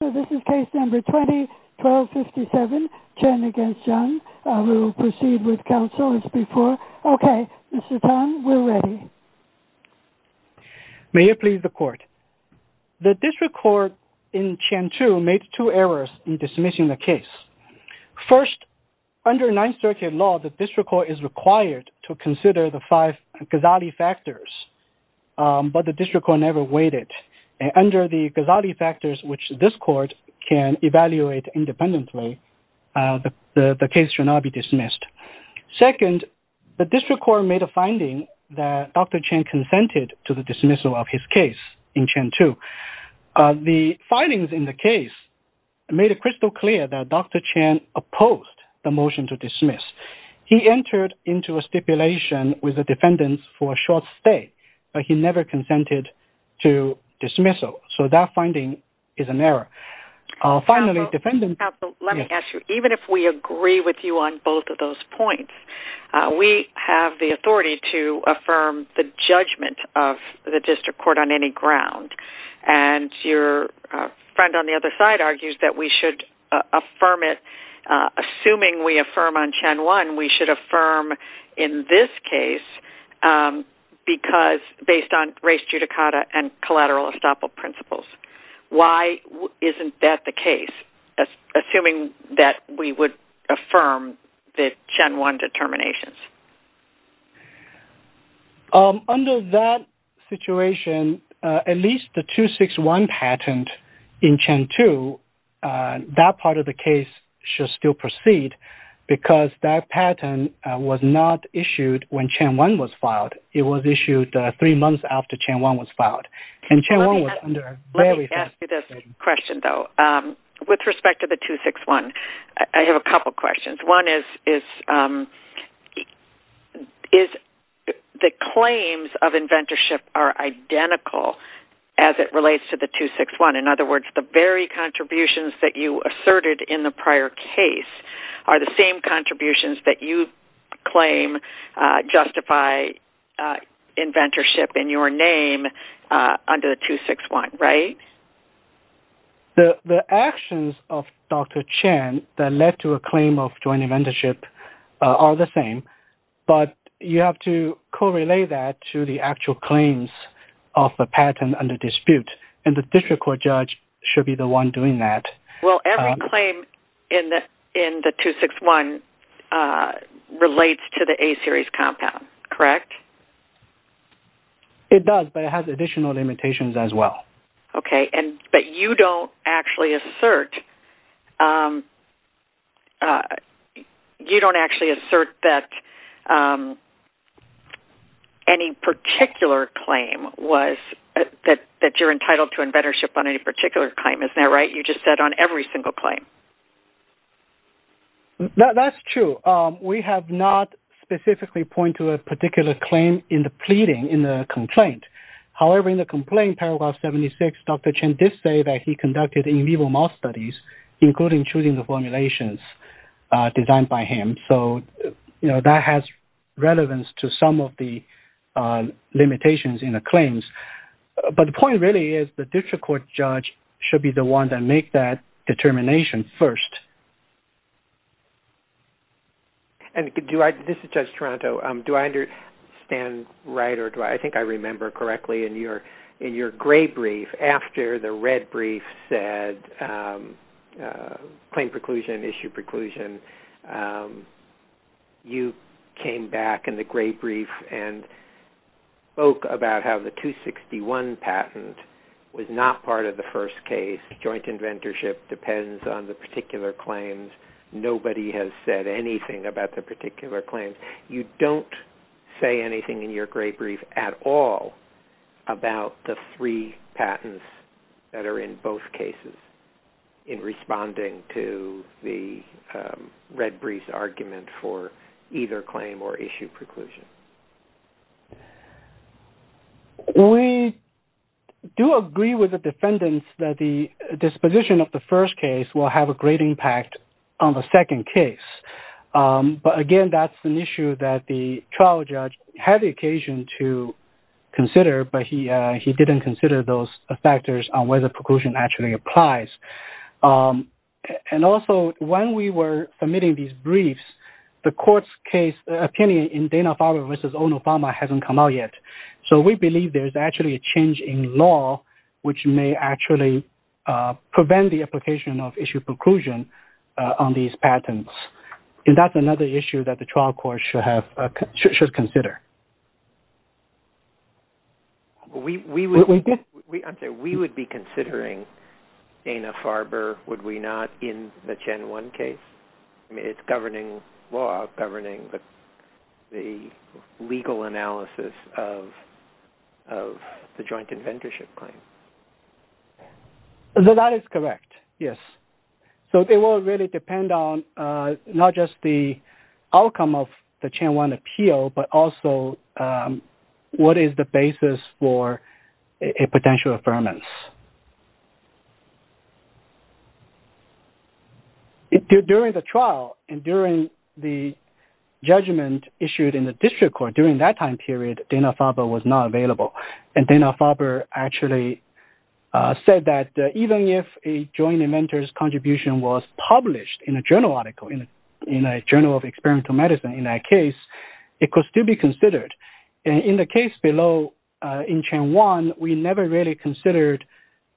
This is case No. 20-1257, Chen v. Jung. We will proceed with counsel as before. Okay, Mr. Tan, we're ready. May it please the court. The district court in Chen v. Jung made two errors in dismissing the case. First, under Ninth Circuit law, the district court is required to consider the five gazali factors, but the district court never waited. Under the gazali factors, which this court can evaluate independently, the case should not be dismissed. Second, the district court made a finding that Dr. Chen consented to the dismissal of his case in Chen v. Jung. The findings in the case made it crystal clear that Dr. Chen opposed the motion to dismiss. He entered into a stipulation with the defendants for a short stay, but he never consented to dismissal. So that finding is an error. Finally, defendants... Counsel, let me ask you, even if we agree with you on both of those points, we have the authority to affirm the judgment of the district court on any ground. And your friend on the other side argues that we should affirm it. Assuming we affirm on Chen 1, we should affirm in this case based on race judicata and collateral estoppel principles. Why isn't that the case, assuming that we would affirm the Chen 1 determinations? Under that situation, at least the 2-6-1 patent in Chen 2, that part of the case should still proceed because that patent was not issued when Chen 1 was filed. It was issued three months after Chen 1 was filed, and Chen 1 was under a very fast... Let me ask you this question, though. With respect to the 2-6-1, I have a couple questions. One is, is the claims of inventorship are identical as it relates to the 2-6-1? In other words, the very contributions that you asserted in the prior case are the same contributions that you claim justify inventorship in your name under the 2-6-1, right? The actions of Dr. Chen that led to a claim of joint inventorship are the same, but you have to correlate that to the actual claims of the patent under dispute, and the district court judge should be the one doing that. Well, every claim in the 2-6-1 relates to the A-series compound, correct? It does, but it has additional limitations as well. Okay, but you don't actually assert that any particular claim was... that you're entitled to inventorship on any particular claim, isn't that right? You just said on every single claim. That's true. We have not specifically pointed to a particular claim in the pleading in the complaint. However, in the complaint, paragraph 76, Dr. Chen did say that he conducted in vivo mouse studies, including choosing the formulations designed by him. That has relevance to some of the limitations in the claims, but the point really is the district court judge should be the one to make that determination first. This is Judge Toronto. Do I understand right or do I... I think I remember correctly in your gray brief, after the red brief said claim preclusion, issue preclusion, you came back in the gray brief and spoke about how the 2-6-1 patent was not part of the first case. Joint inventorship depends on the particular claims. Nobody has said anything about the particular claims. You don't say anything in your gray brief at all about the three patents that are in both cases in responding to the red brief's argument for either claim or issue preclusion. We do agree with the defendants that the disposition of the first case will have a great impact on the second case. But again, that's an issue that the trial judge had the occasion to consider, but he didn't consider those factors on whether preclusion actually applies. Also, when we were submitting these briefs, the court's opinion in Dana-Farber v. Ono-Farma hasn't come out yet. We believe there's actually a change in law which may actually prevent the application of issue preclusion on these patents. That's another issue that the trial court should consider. We would be considering Dana-Farber, would we not, in the Chen-1 case? I mean, it's law governing the legal analysis of the joint inventorship claim. That is correct, yes. So, it will really depend on not just the outcome of the Chen-1 appeal, but also what is the basis for a potential affirmance. During the trial and during the judgment issued in the district court, during that time period, Dana-Farber was not available. And Dana-Farber actually said that even if a joint inventor's contribution was published in a journal article, in a journal of experimental medicine in that case, it could still be considered. In the case below, in Chen-1, we never really considered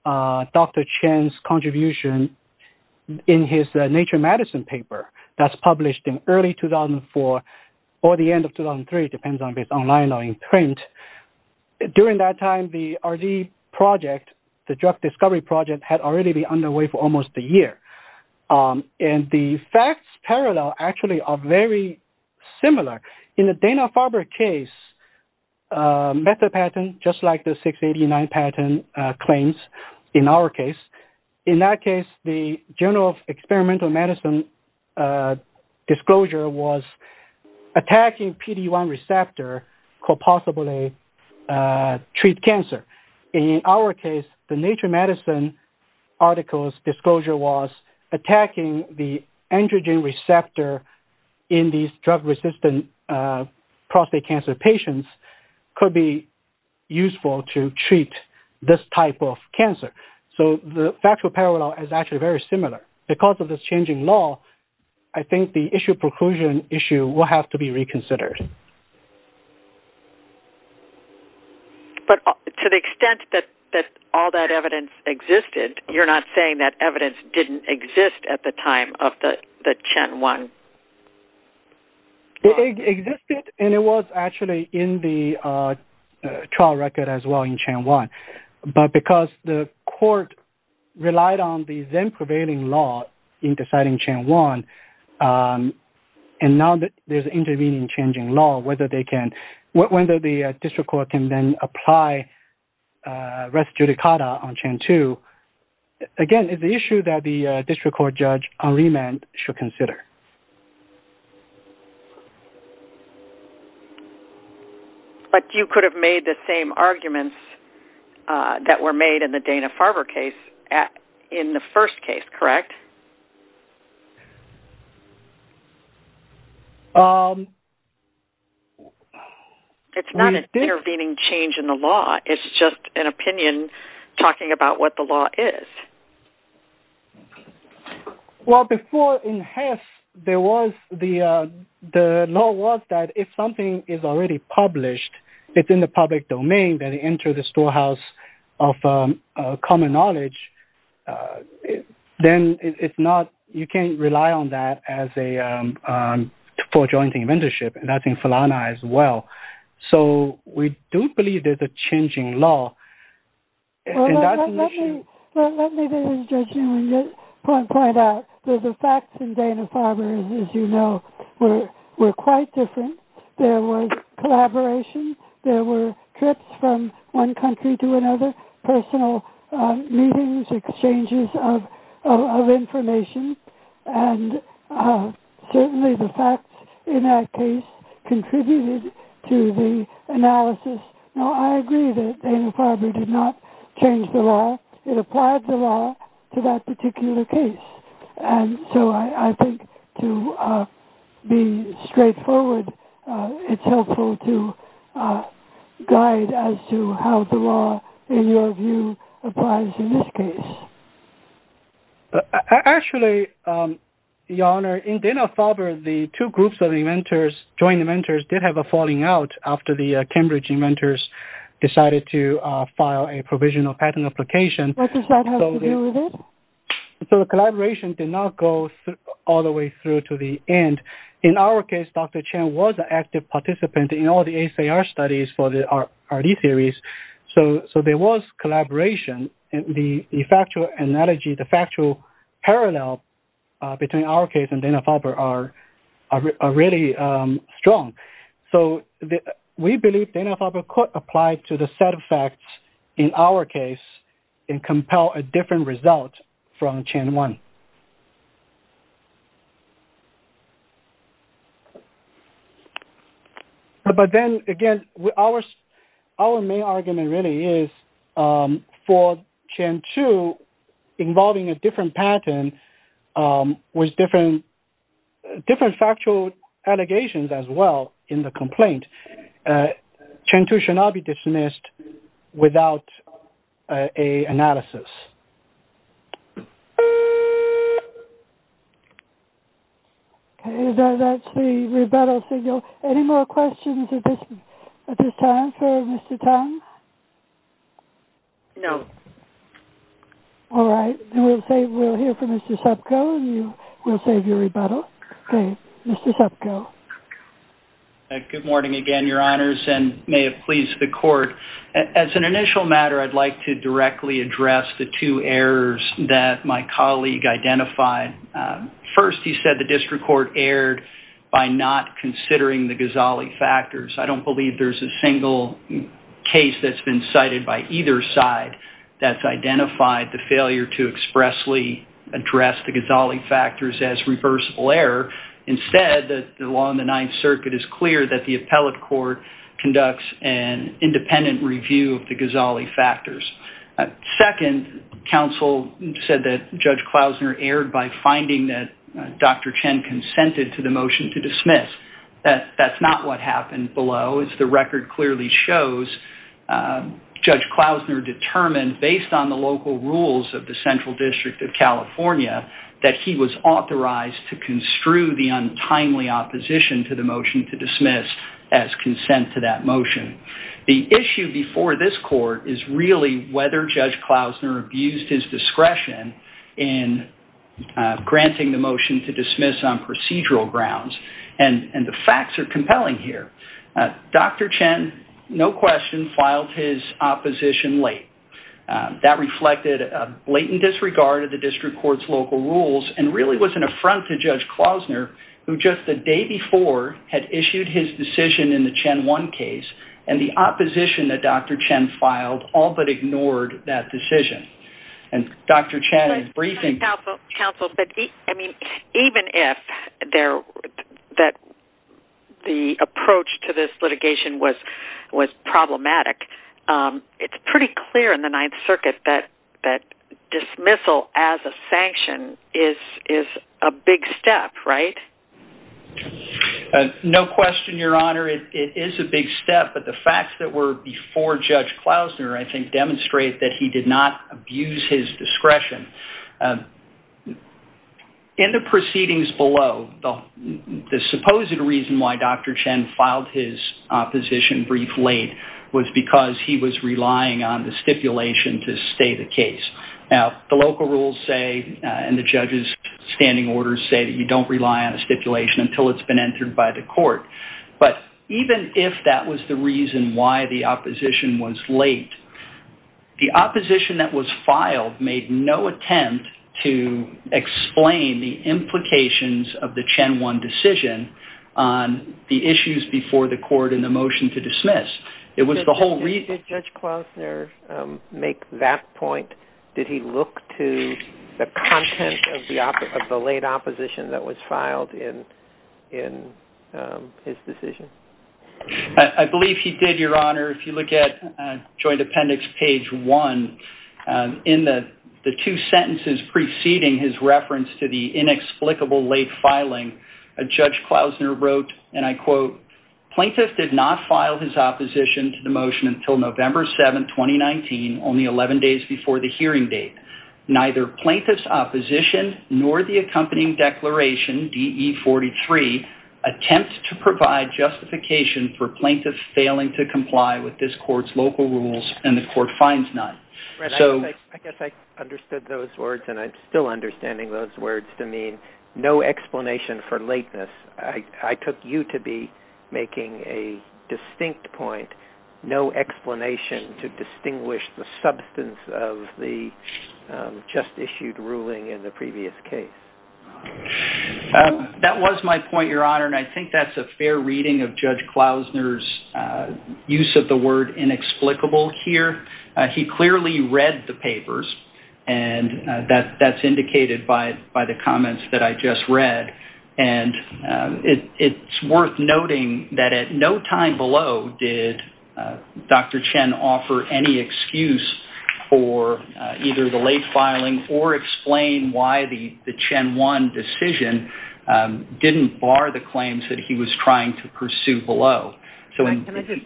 Dr. Chen's contribution in his Nature Medicine paper that's published in early 2004 or the end of 2003, depends on if it's online or in print. During that time, the RD project, the drug discovery project, had already been underway for almost a year. And the facts parallel actually are very similar. In the Dana-Farber case method patent, just like the 689 patent claims in our case, in that case, the journal of experimental medicine disclosure was attacking PD-1 receptor could possibly treat cancer. In our case, the Nature Medicine article's disclosure was attacking the androgen receptor in these drug-resistant prostate cancer patients could be useful to treat this type of cancer. So the factual parallel is actually very similar. Because of this changing law, I think the issue of preclusion issue will have to be reconsidered. But to the extent that all that evidence existed, you're not saying that evidence didn't exist at the time of the Chen-1? It existed, and it was actually in the trial record as well in Chen-1. But because the court relied on the then-prevailing law in deciding Chen-1, and now that there's an intervening changing law, whether the district court can then apply res judicata on Chen-2, again, it's an issue that the district court judge on remand should consider. But you could have made the same arguments that were made in the Dana-Farber case in the first case, correct? It's not an intervening change in the law. It's just an opinion talking about what the law is. Well, before in HESS, the law was that if something is already published, it's in the public domain, that it enters the storehouse of common knowledge, then you can't rely on that for joint inventorship, and that's in FALANA as well. So we do believe there's a changing law, and that's an issue. Let me just point out that the facts in Dana-Farber, as you know, were quite different. There was collaboration. There were trips from one country to another, personal meetings, exchanges of information, and certainly the facts in that case contributed to the analysis. Now, I agree that Dana-Farber did not change the law. It applied the law to that particular case. And so I think to be straightforward, it's helpful to guide as to how the law, in your view, applies in this case. Actually, Your Honor, in Dana-Farber, the two groups of inventors, joint inventors, did have a falling out after the Cambridge inventors decided to file a provisional patent application. What does that have to do with it? So the collaboration did not go all the way through to the end. In our case, Dr. Chen was an active participant in all the ACR studies for the RD series, so there was collaboration. The factual analogy, the factual parallel between our case and Dana-Farber are really strong. So we believe Dana-Farber could apply to the set of facts in our case and compel a different result from Chen 1. But then, again, our main argument really is for Chen 2 involving a different patent with different factual allegations as well in the complaint. Chen 2 should not be dismissed without an analysis. Okay, that's the rebuttal signal. Any more questions at this time for Mr. Tang? No. All right, we'll hear from Mr. Sepko and we'll save your rebuttal. Okay, Mr. Sepko. Good morning again, Your Honors, and may it please the Court. As an initial matter, I'd like to directly address the two errors that my colleague identified. First, he said the district court erred by not considering the Ghazali factors. I don't believe there's a single case that's been cited by either side that's identified the failure to expressly address the Ghazali factors as reversible error. Instead, the law in the Ninth Circuit is clear that the appellate court conducts an independent review of the Ghazali factors. Second, counsel said that Judge Klausner erred by finding that Dr. Chen consented to the motion to dismiss. That's not what happened below, as the record clearly shows. Judge Klausner determined, based on the local rules of the Central District of California, that he was authorized to construe the untimely opposition to the motion to dismiss as consent to that motion. The issue before this Court is really whether Judge Klausner abused his discretion in granting the motion to dismiss on procedural grounds. And the facts are compelling here. Dr. Chen, no question, filed his opposition late. That reflected a blatant disregard of the district court's local rules and really was an affront to Judge Klausner, who just the day before had issued his decision in the Chen 1 case, and the opposition that Dr. Chen filed all but ignored that decision. Even if the approach to this litigation was problematic, it's pretty clear in the Ninth Circuit that dismissal as a sanction is a big step, right? No question, Your Honor. It is a big step. But the facts that were before Judge Klausner, I think, demonstrate that he did not abuse his discretion. In the proceedings below, the supposed reason why Dr. Chen filed his opposition brief late was because he was relying on the stipulation to stay the case. Now, the local rules say, and the judge's standing orders say that you don't rely on a stipulation until it's been entered by the court. But even if that was the reason why the opposition was late, the opposition that was filed made no attempt to explain the implications of the Chen 1 decision on the issues before the court in the motion to dismiss. Did Judge Klausner make that point? Did he look to the content of the late opposition that was filed in his decision? I believe he did, Your Honor. If you look at Joint Appendix page 1, in the two sentences preceding his reference to the inexplicable late filing, Judge Klausner wrote, and I quote, Plaintiff did not file his opposition to the motion until November 7, 2019, only 11 days before the hearing date. Neither plaintiff's opposition nor the accompanying declaration, DE 43, attempt to provide justification for plaintiffs failing to comply with this court's local rules, and the court finds none. I guess I understood those words, and I'm still understanding those words to mean no explanation for lateness. I took you to be making a distinct point, no explanation to distinguish the substance of the just issued ruling in the previous case. That was my point, Your Honor, and I think that's a fair reading of Judge Klausner's use of the word inexplicable here. He clearly read the papers, and that's indicated by the comments that I just read, and it's worth noting that at no time below did Dr. Chen offer any excuse for either the late filing or explain why the Chen 1 decision didn't bar the claims that he was trying to pursue below. Can I just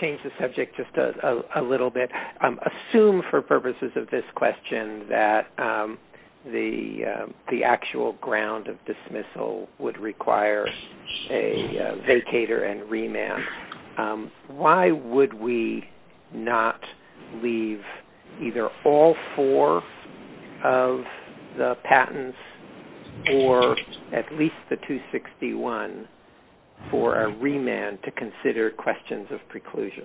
change the subject just a little bit? Assume for purposes of this question that the actual ground of dismissal would require a vacator and remand. Why would we not leave either all four of the patents or at least the 261 for a remand to consider questions of preclusion?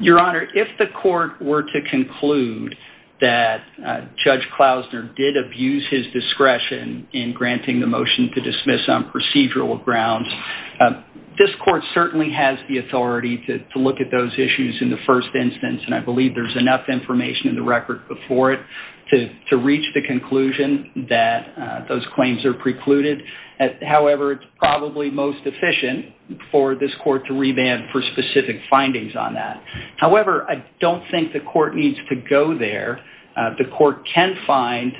Your Honor, if the court were to conclude that Judge Klausner did abuse his discretion in granting the motion to dismiss on procedural grounds, this court certainly has the authority to look at those issues in the first instance, and I believe there's enough information in the record before it to reach the conclusion that those claims are precluded. However, it's probably most efficient for this court to remand for specific findings on that. However, I don't think the court needs to go there. The court can find,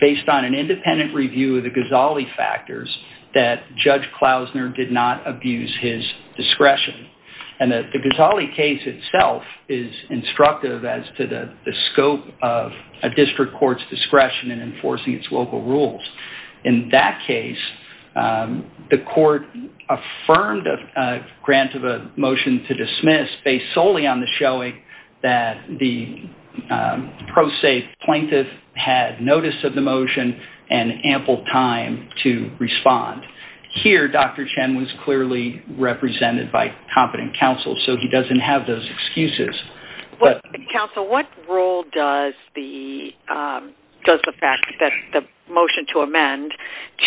based on an independent review of the Ghazali factors, that Judge Klausner did not abuse his discretion. And the Ghazali case itself is instructive as to the scope of a district court's discretion in enforcing its local rules. In that case, the court affirmed a grant of a motion to dismiss based solely on the showing that the pro se plaintiff had notice of the motion and ample time to respond. Here, Dr. Chen was clearly represented by competent counsel, so he doesn't have those excuses. Counsel, what role does the fact that the motion to amend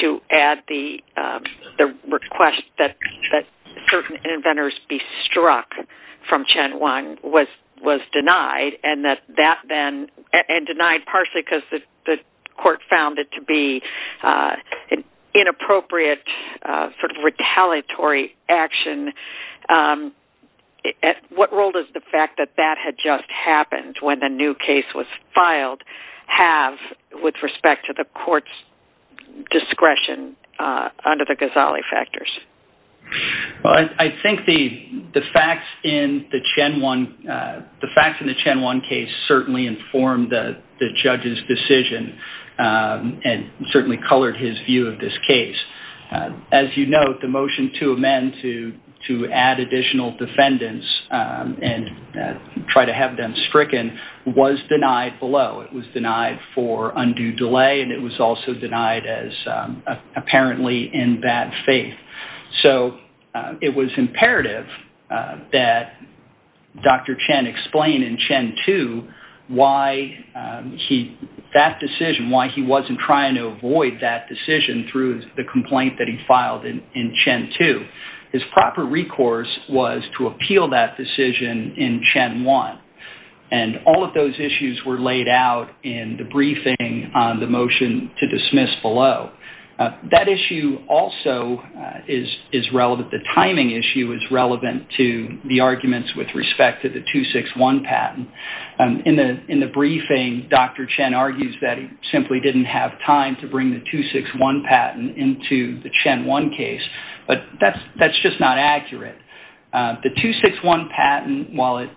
to add the request that certain inventors be struck from Chen 1 was denied, and denied partially because the court found it to be inappropriate, sort of retaliatory action. What role does the fact that that had just happened when the new case was filed have with respect to the court's discretion under the Ghazali factors? Well, I think the facts in the Chen 1 case certainly informed the judge's decision and certainly colored his view of this case. As you note, the motion to amend to add additional defendants and try to have them stricken was denied below. It was denied for undue delay and it was also denied as apparently in bad faith. It was imperative that Dr. Chen explain in Chen 2 why that decision, why he wasn't trying to avoid that decision through the complaint that he filed in Chen 2. His proper recourse was to appeal that decision in Chen 1. All of those issues were laid out in the briefing on the motion to dismiss below. That issue also is relevant, the timing issue is relevant to the arguments with respect to the 2-6-1 patent. In the briefing, Dr. Chen argues that he simply didn't have time to bring the 2-6-1 patent into the Chen 1 case, but that's just not accurate. The 2-6-1 patent, while it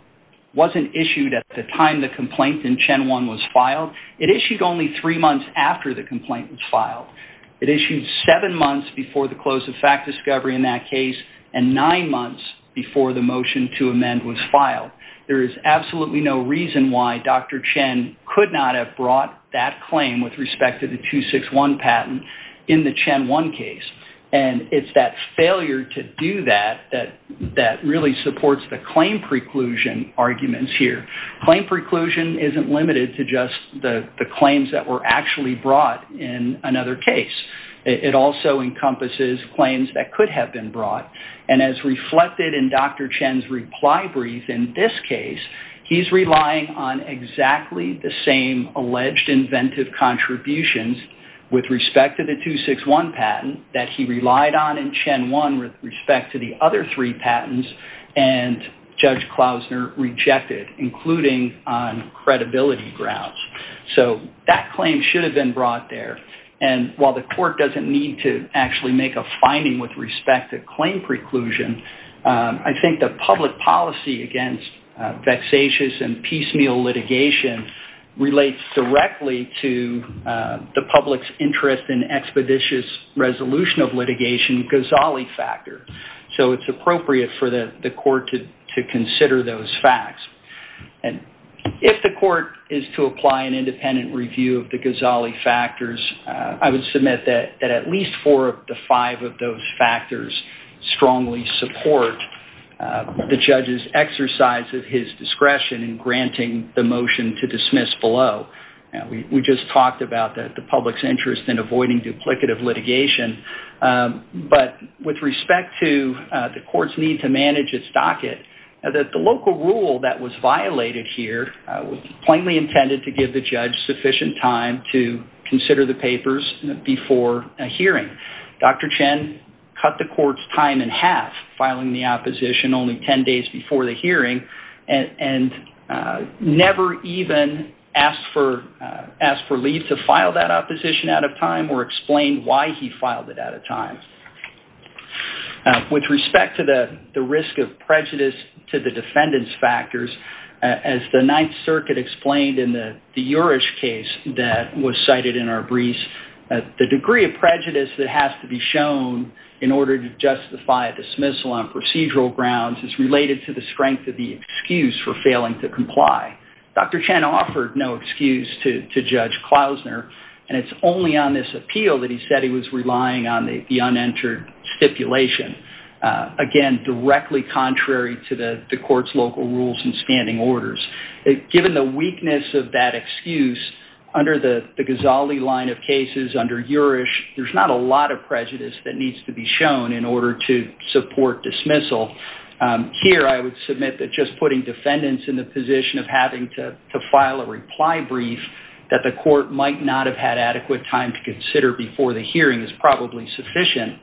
wasn't issued at the time the complaint in Chen 1 was filed, it issued only three months after the complaint was filed. It issued seven months before the close of fact discovery in that case and nine months before the motion to amend was filed. There is absolutely no reason why Dr. Chen could not have brought that claim with respect to the 2-6-1 patent in the Chen 1 case. It's that failure to do that that really supports the claim preclusion arguments here. Claim preclusion isn't limited to just the claims that were actually brought in another case. It also encompasses claims that could have been brought, and as reflected in Dr. Chen's reply brief in this case, he's relying on exactly the same alleged inventive contributions with respect to the 2-6-1 patent that he relied on in Chen 1 with respect to the other three patents, and Judge Klausner rejected, including on credibility grounds. So that claim should have been brought there, and while the court doesn't need to actually make a finding with respect to claim preclusion, I think the public policy against vexatious and piecemeal litigation relates directly to the public's interest in expeditious resolution of litigation, the Ghazali factor, so it's appropriate for the court to consider those facts. If the court is to apply an independent review of the Ghazali factors, I would submit that at least four of the five of those factors strongly support the judge's exercise of his discretion in granting the motion to dismiss below. We just talked about the public's interest in avoiding duplicative litigation, but with respect to the court's need to manage its docket, the local rule that was violated here was plainly intended to give the judge sufficient time to consider the papers before a hearing. Dr. Chen cut the court's time in half, filing the opposition only ten days before the hearing, and never even asked for leave to file that opposition out of time or explain why he filed it out of time. With respect to the risk of prejudice to the defendant's factors, as the Ninth Circuit explained in the Jurich case that was cited in our briefs, the degree of prejudice that has to be shown in order to justify a dismissal on procedural grounds is related to the strength of the excuse for failing to comply. Dr. Chen offered no excuse to Judge Klausner, and it's only on this appeal that he said he was relying on the unentered stipulation, again, directly contrary to the court's local rules and standing orders. Given the weakness of that excuse, under the Ghazali line of cases, under Jurich, there's not a lot of prejudice that needs to be shown in order to support dismissal. Here, I would submit that just putting defendants in the position of having to file a reply brief that the court might not have had adequate time to consider before the hearing is probably sufficient.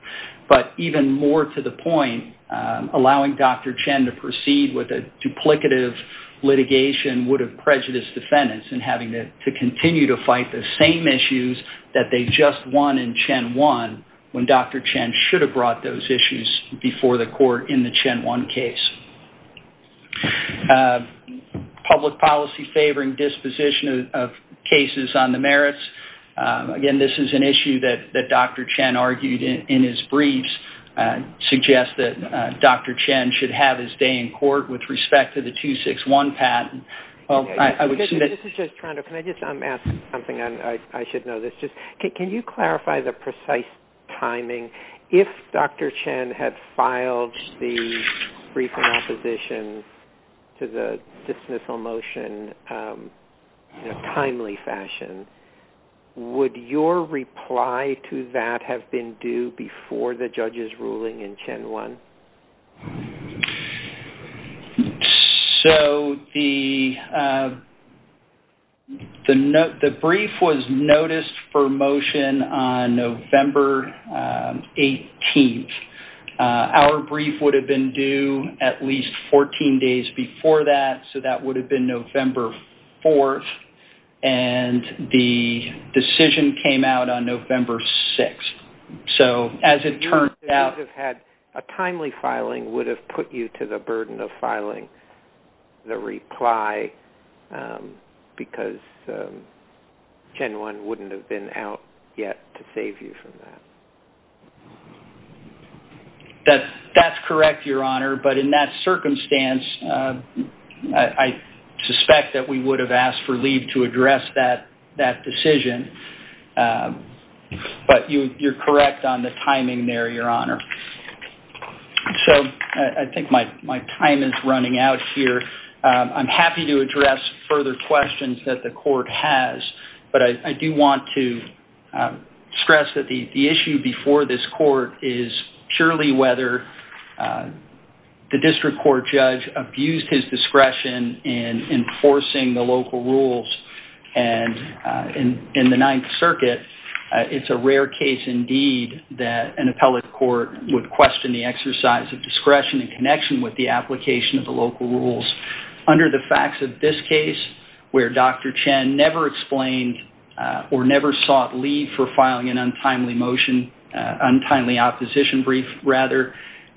But even more to the point, allowing Dr. Chen to proceed with a duplicative litigation would have prejudiced defendants in having to continue to fight the same issues that they just won in Chen 1, when Dr. Chen should have brought those issues before the court in the Chen 1 case. Public policy favoring disposition of cases on the merits. Again, this is an issue that Dr. Chen argued in his briefs, suggests that Dr. Chen should have his day in court with respect to the 261 patent. This is Judge Toronto. Can I just ask something? I should know this. Can you clarify the precise timing? If Dr. Chen had filed the brief in opposition to the dismissal motion in a timely fashion, would your reply to that have been due before the judge's ruling in Chen 1? So, the brief was noticed for motion on November 18th. Our brief would have been due at least 14 days before that, so that would have been November 4th, and the decision came out on November 6th. A timely filing would have put you to the burden of filing the reply, because Chen 1 wouldn't have been out yet to save you from that. That's correct, Your Honor, but in that circumstance, I suspect that we would have asked for leave to address that decision, but you're correct on the timing there, Your Honor. So, I think my time is running out here. I'm happy to address further questions that the court has, but I do want to stress that the issue before this court is purely whether the district court judge abused his discretion in enforcing the local rules. In the Ninth Circuit, it's a rare case, indeed, that an appellate court would question the exercise of discretion in connection with the application of the local rules under the facts of this case, where Dr. Chen never explained or never sought leave for filing an untimely opposition brief,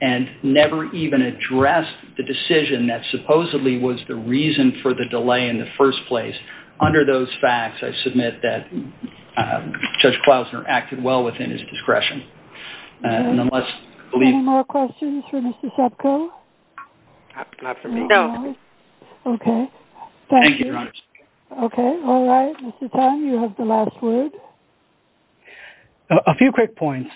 and never even addressed the decision that supposedly was the reason for the delay in the first place. Under those facts, I submit that Judge Klausner acted well within his discretion. Any more questions for Mr. Sapko? Not for me, no. Okay, thank you. Thank you, Your Honor. Okay, all right, Mr. Tan, you have the last word. A few quick points.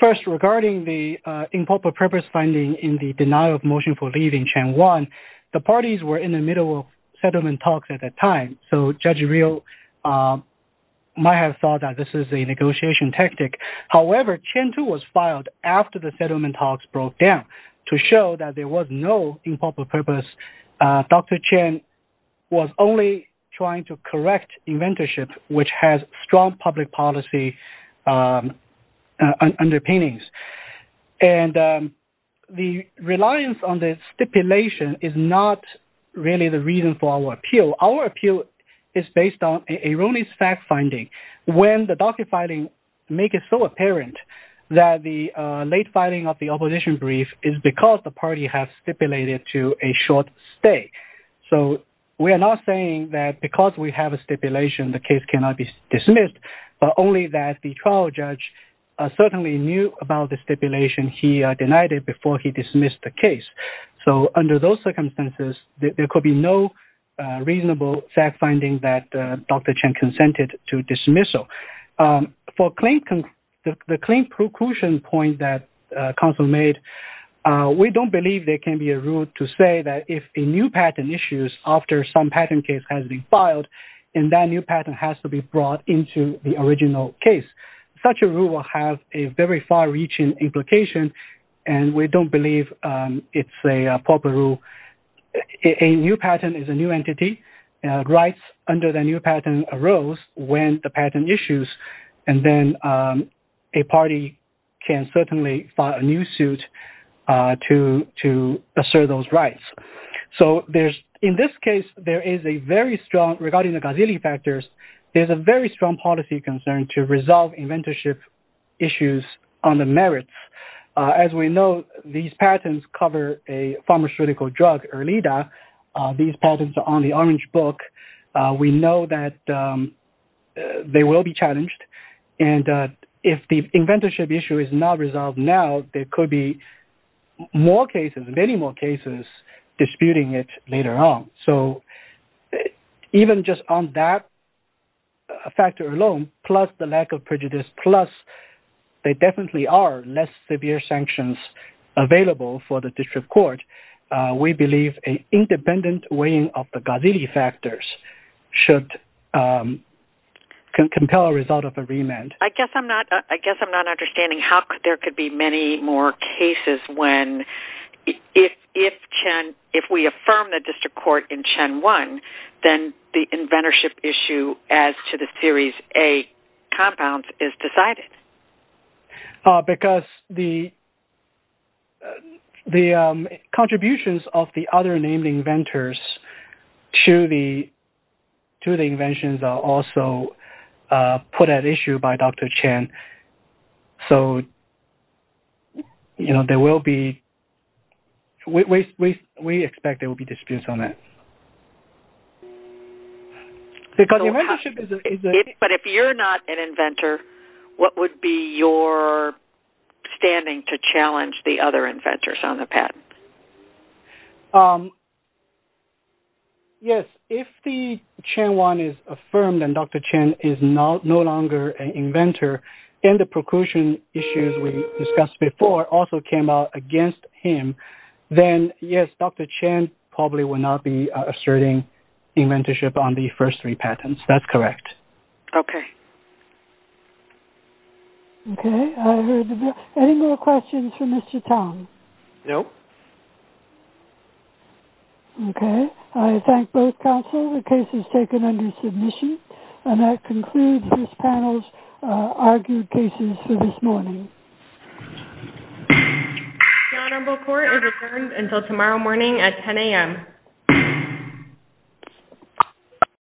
First, regarding the improper purpose finding in the denial of motion for leaving Chen Wan, the parties were in the middle of settlement talks at that time, so Judge Rios might have thought that this was a negotiation tactic. However, Chen, too, was filed after the settlement talks broke down to show that there was no improper purpose. Dr. Chen was only trying to correct inventorship, which has strong public policy underpinnings. And the reliance on the stipulation is not really the reason for our appeal. Our appeal is based on an erroneous fact finding. When the docket filing makes it so apparent that the late filing of the opposition brief is because the party has stipulated to a short stay. So we are not saying that because we have a stipulation, the case cannot be dismissed, but only that the trial judge certainly knew about the stipulation. He denied it before he dismissed the case. So under those circumstances, there could be no reasonable fact finding that Dr. Chen consented to dismissal. For the claim preclusion point that counsel made, we don't believe there can be a rule to say that if a new patent issues after some patent case has been filed, and that new patent has to be brought into the original case. Such a rule will have a very far reaching implication, and we don't believe it's a proper rule. A new patent is a new entity. Rights under the new patent arose when the patent issues, and then a party can certainly file a new suit to assert those rights. So in this case, there is a very strong, regarding the gazillion factors, there's a very strong policy concern to resolve inventorship issues on the merits. As we know, these patents cover a pharmaceutical drug, Erlida. These patents are on the orange book. And if the inventorship issue is not resolved now, there could be more cases, many more cases disputing it later on. So even just on that factor alone, plus the lack of prejudice, plus there definitely are less severe sanctions available for the district court, we believe an independent weighing of the gazillion factors should compel a result of a remand. I guess I'm not understanding how there could be many more cases when, if we affirm the district court in Chen 1, then the inventorship issue as to the Series A compound is decided. Because the contributions of the other named inventors to the inventions are also put at issue by Dr. Chen. So, you know, there will be, we expect there will be disputes on that. But if you're not an inventor, what would be your standing to challenge the other inventors on the patent? Yes, if the Chen 1 is affirmed and Dr. Chen is no longer an inventor, and the procursion issues we discussed before also came out against him, then yes, Dr. Chen probably will not be asserting inventorship on the first three patents. That's correct. Okay. Okay. Any more questions for Mr. Tong? No. Okay. I thank both counsel. The case is taken under submission. And that concludes this panel's argued cases for this morning. The Honorable Court is adjourned until tomorrow morning at 10 a.m.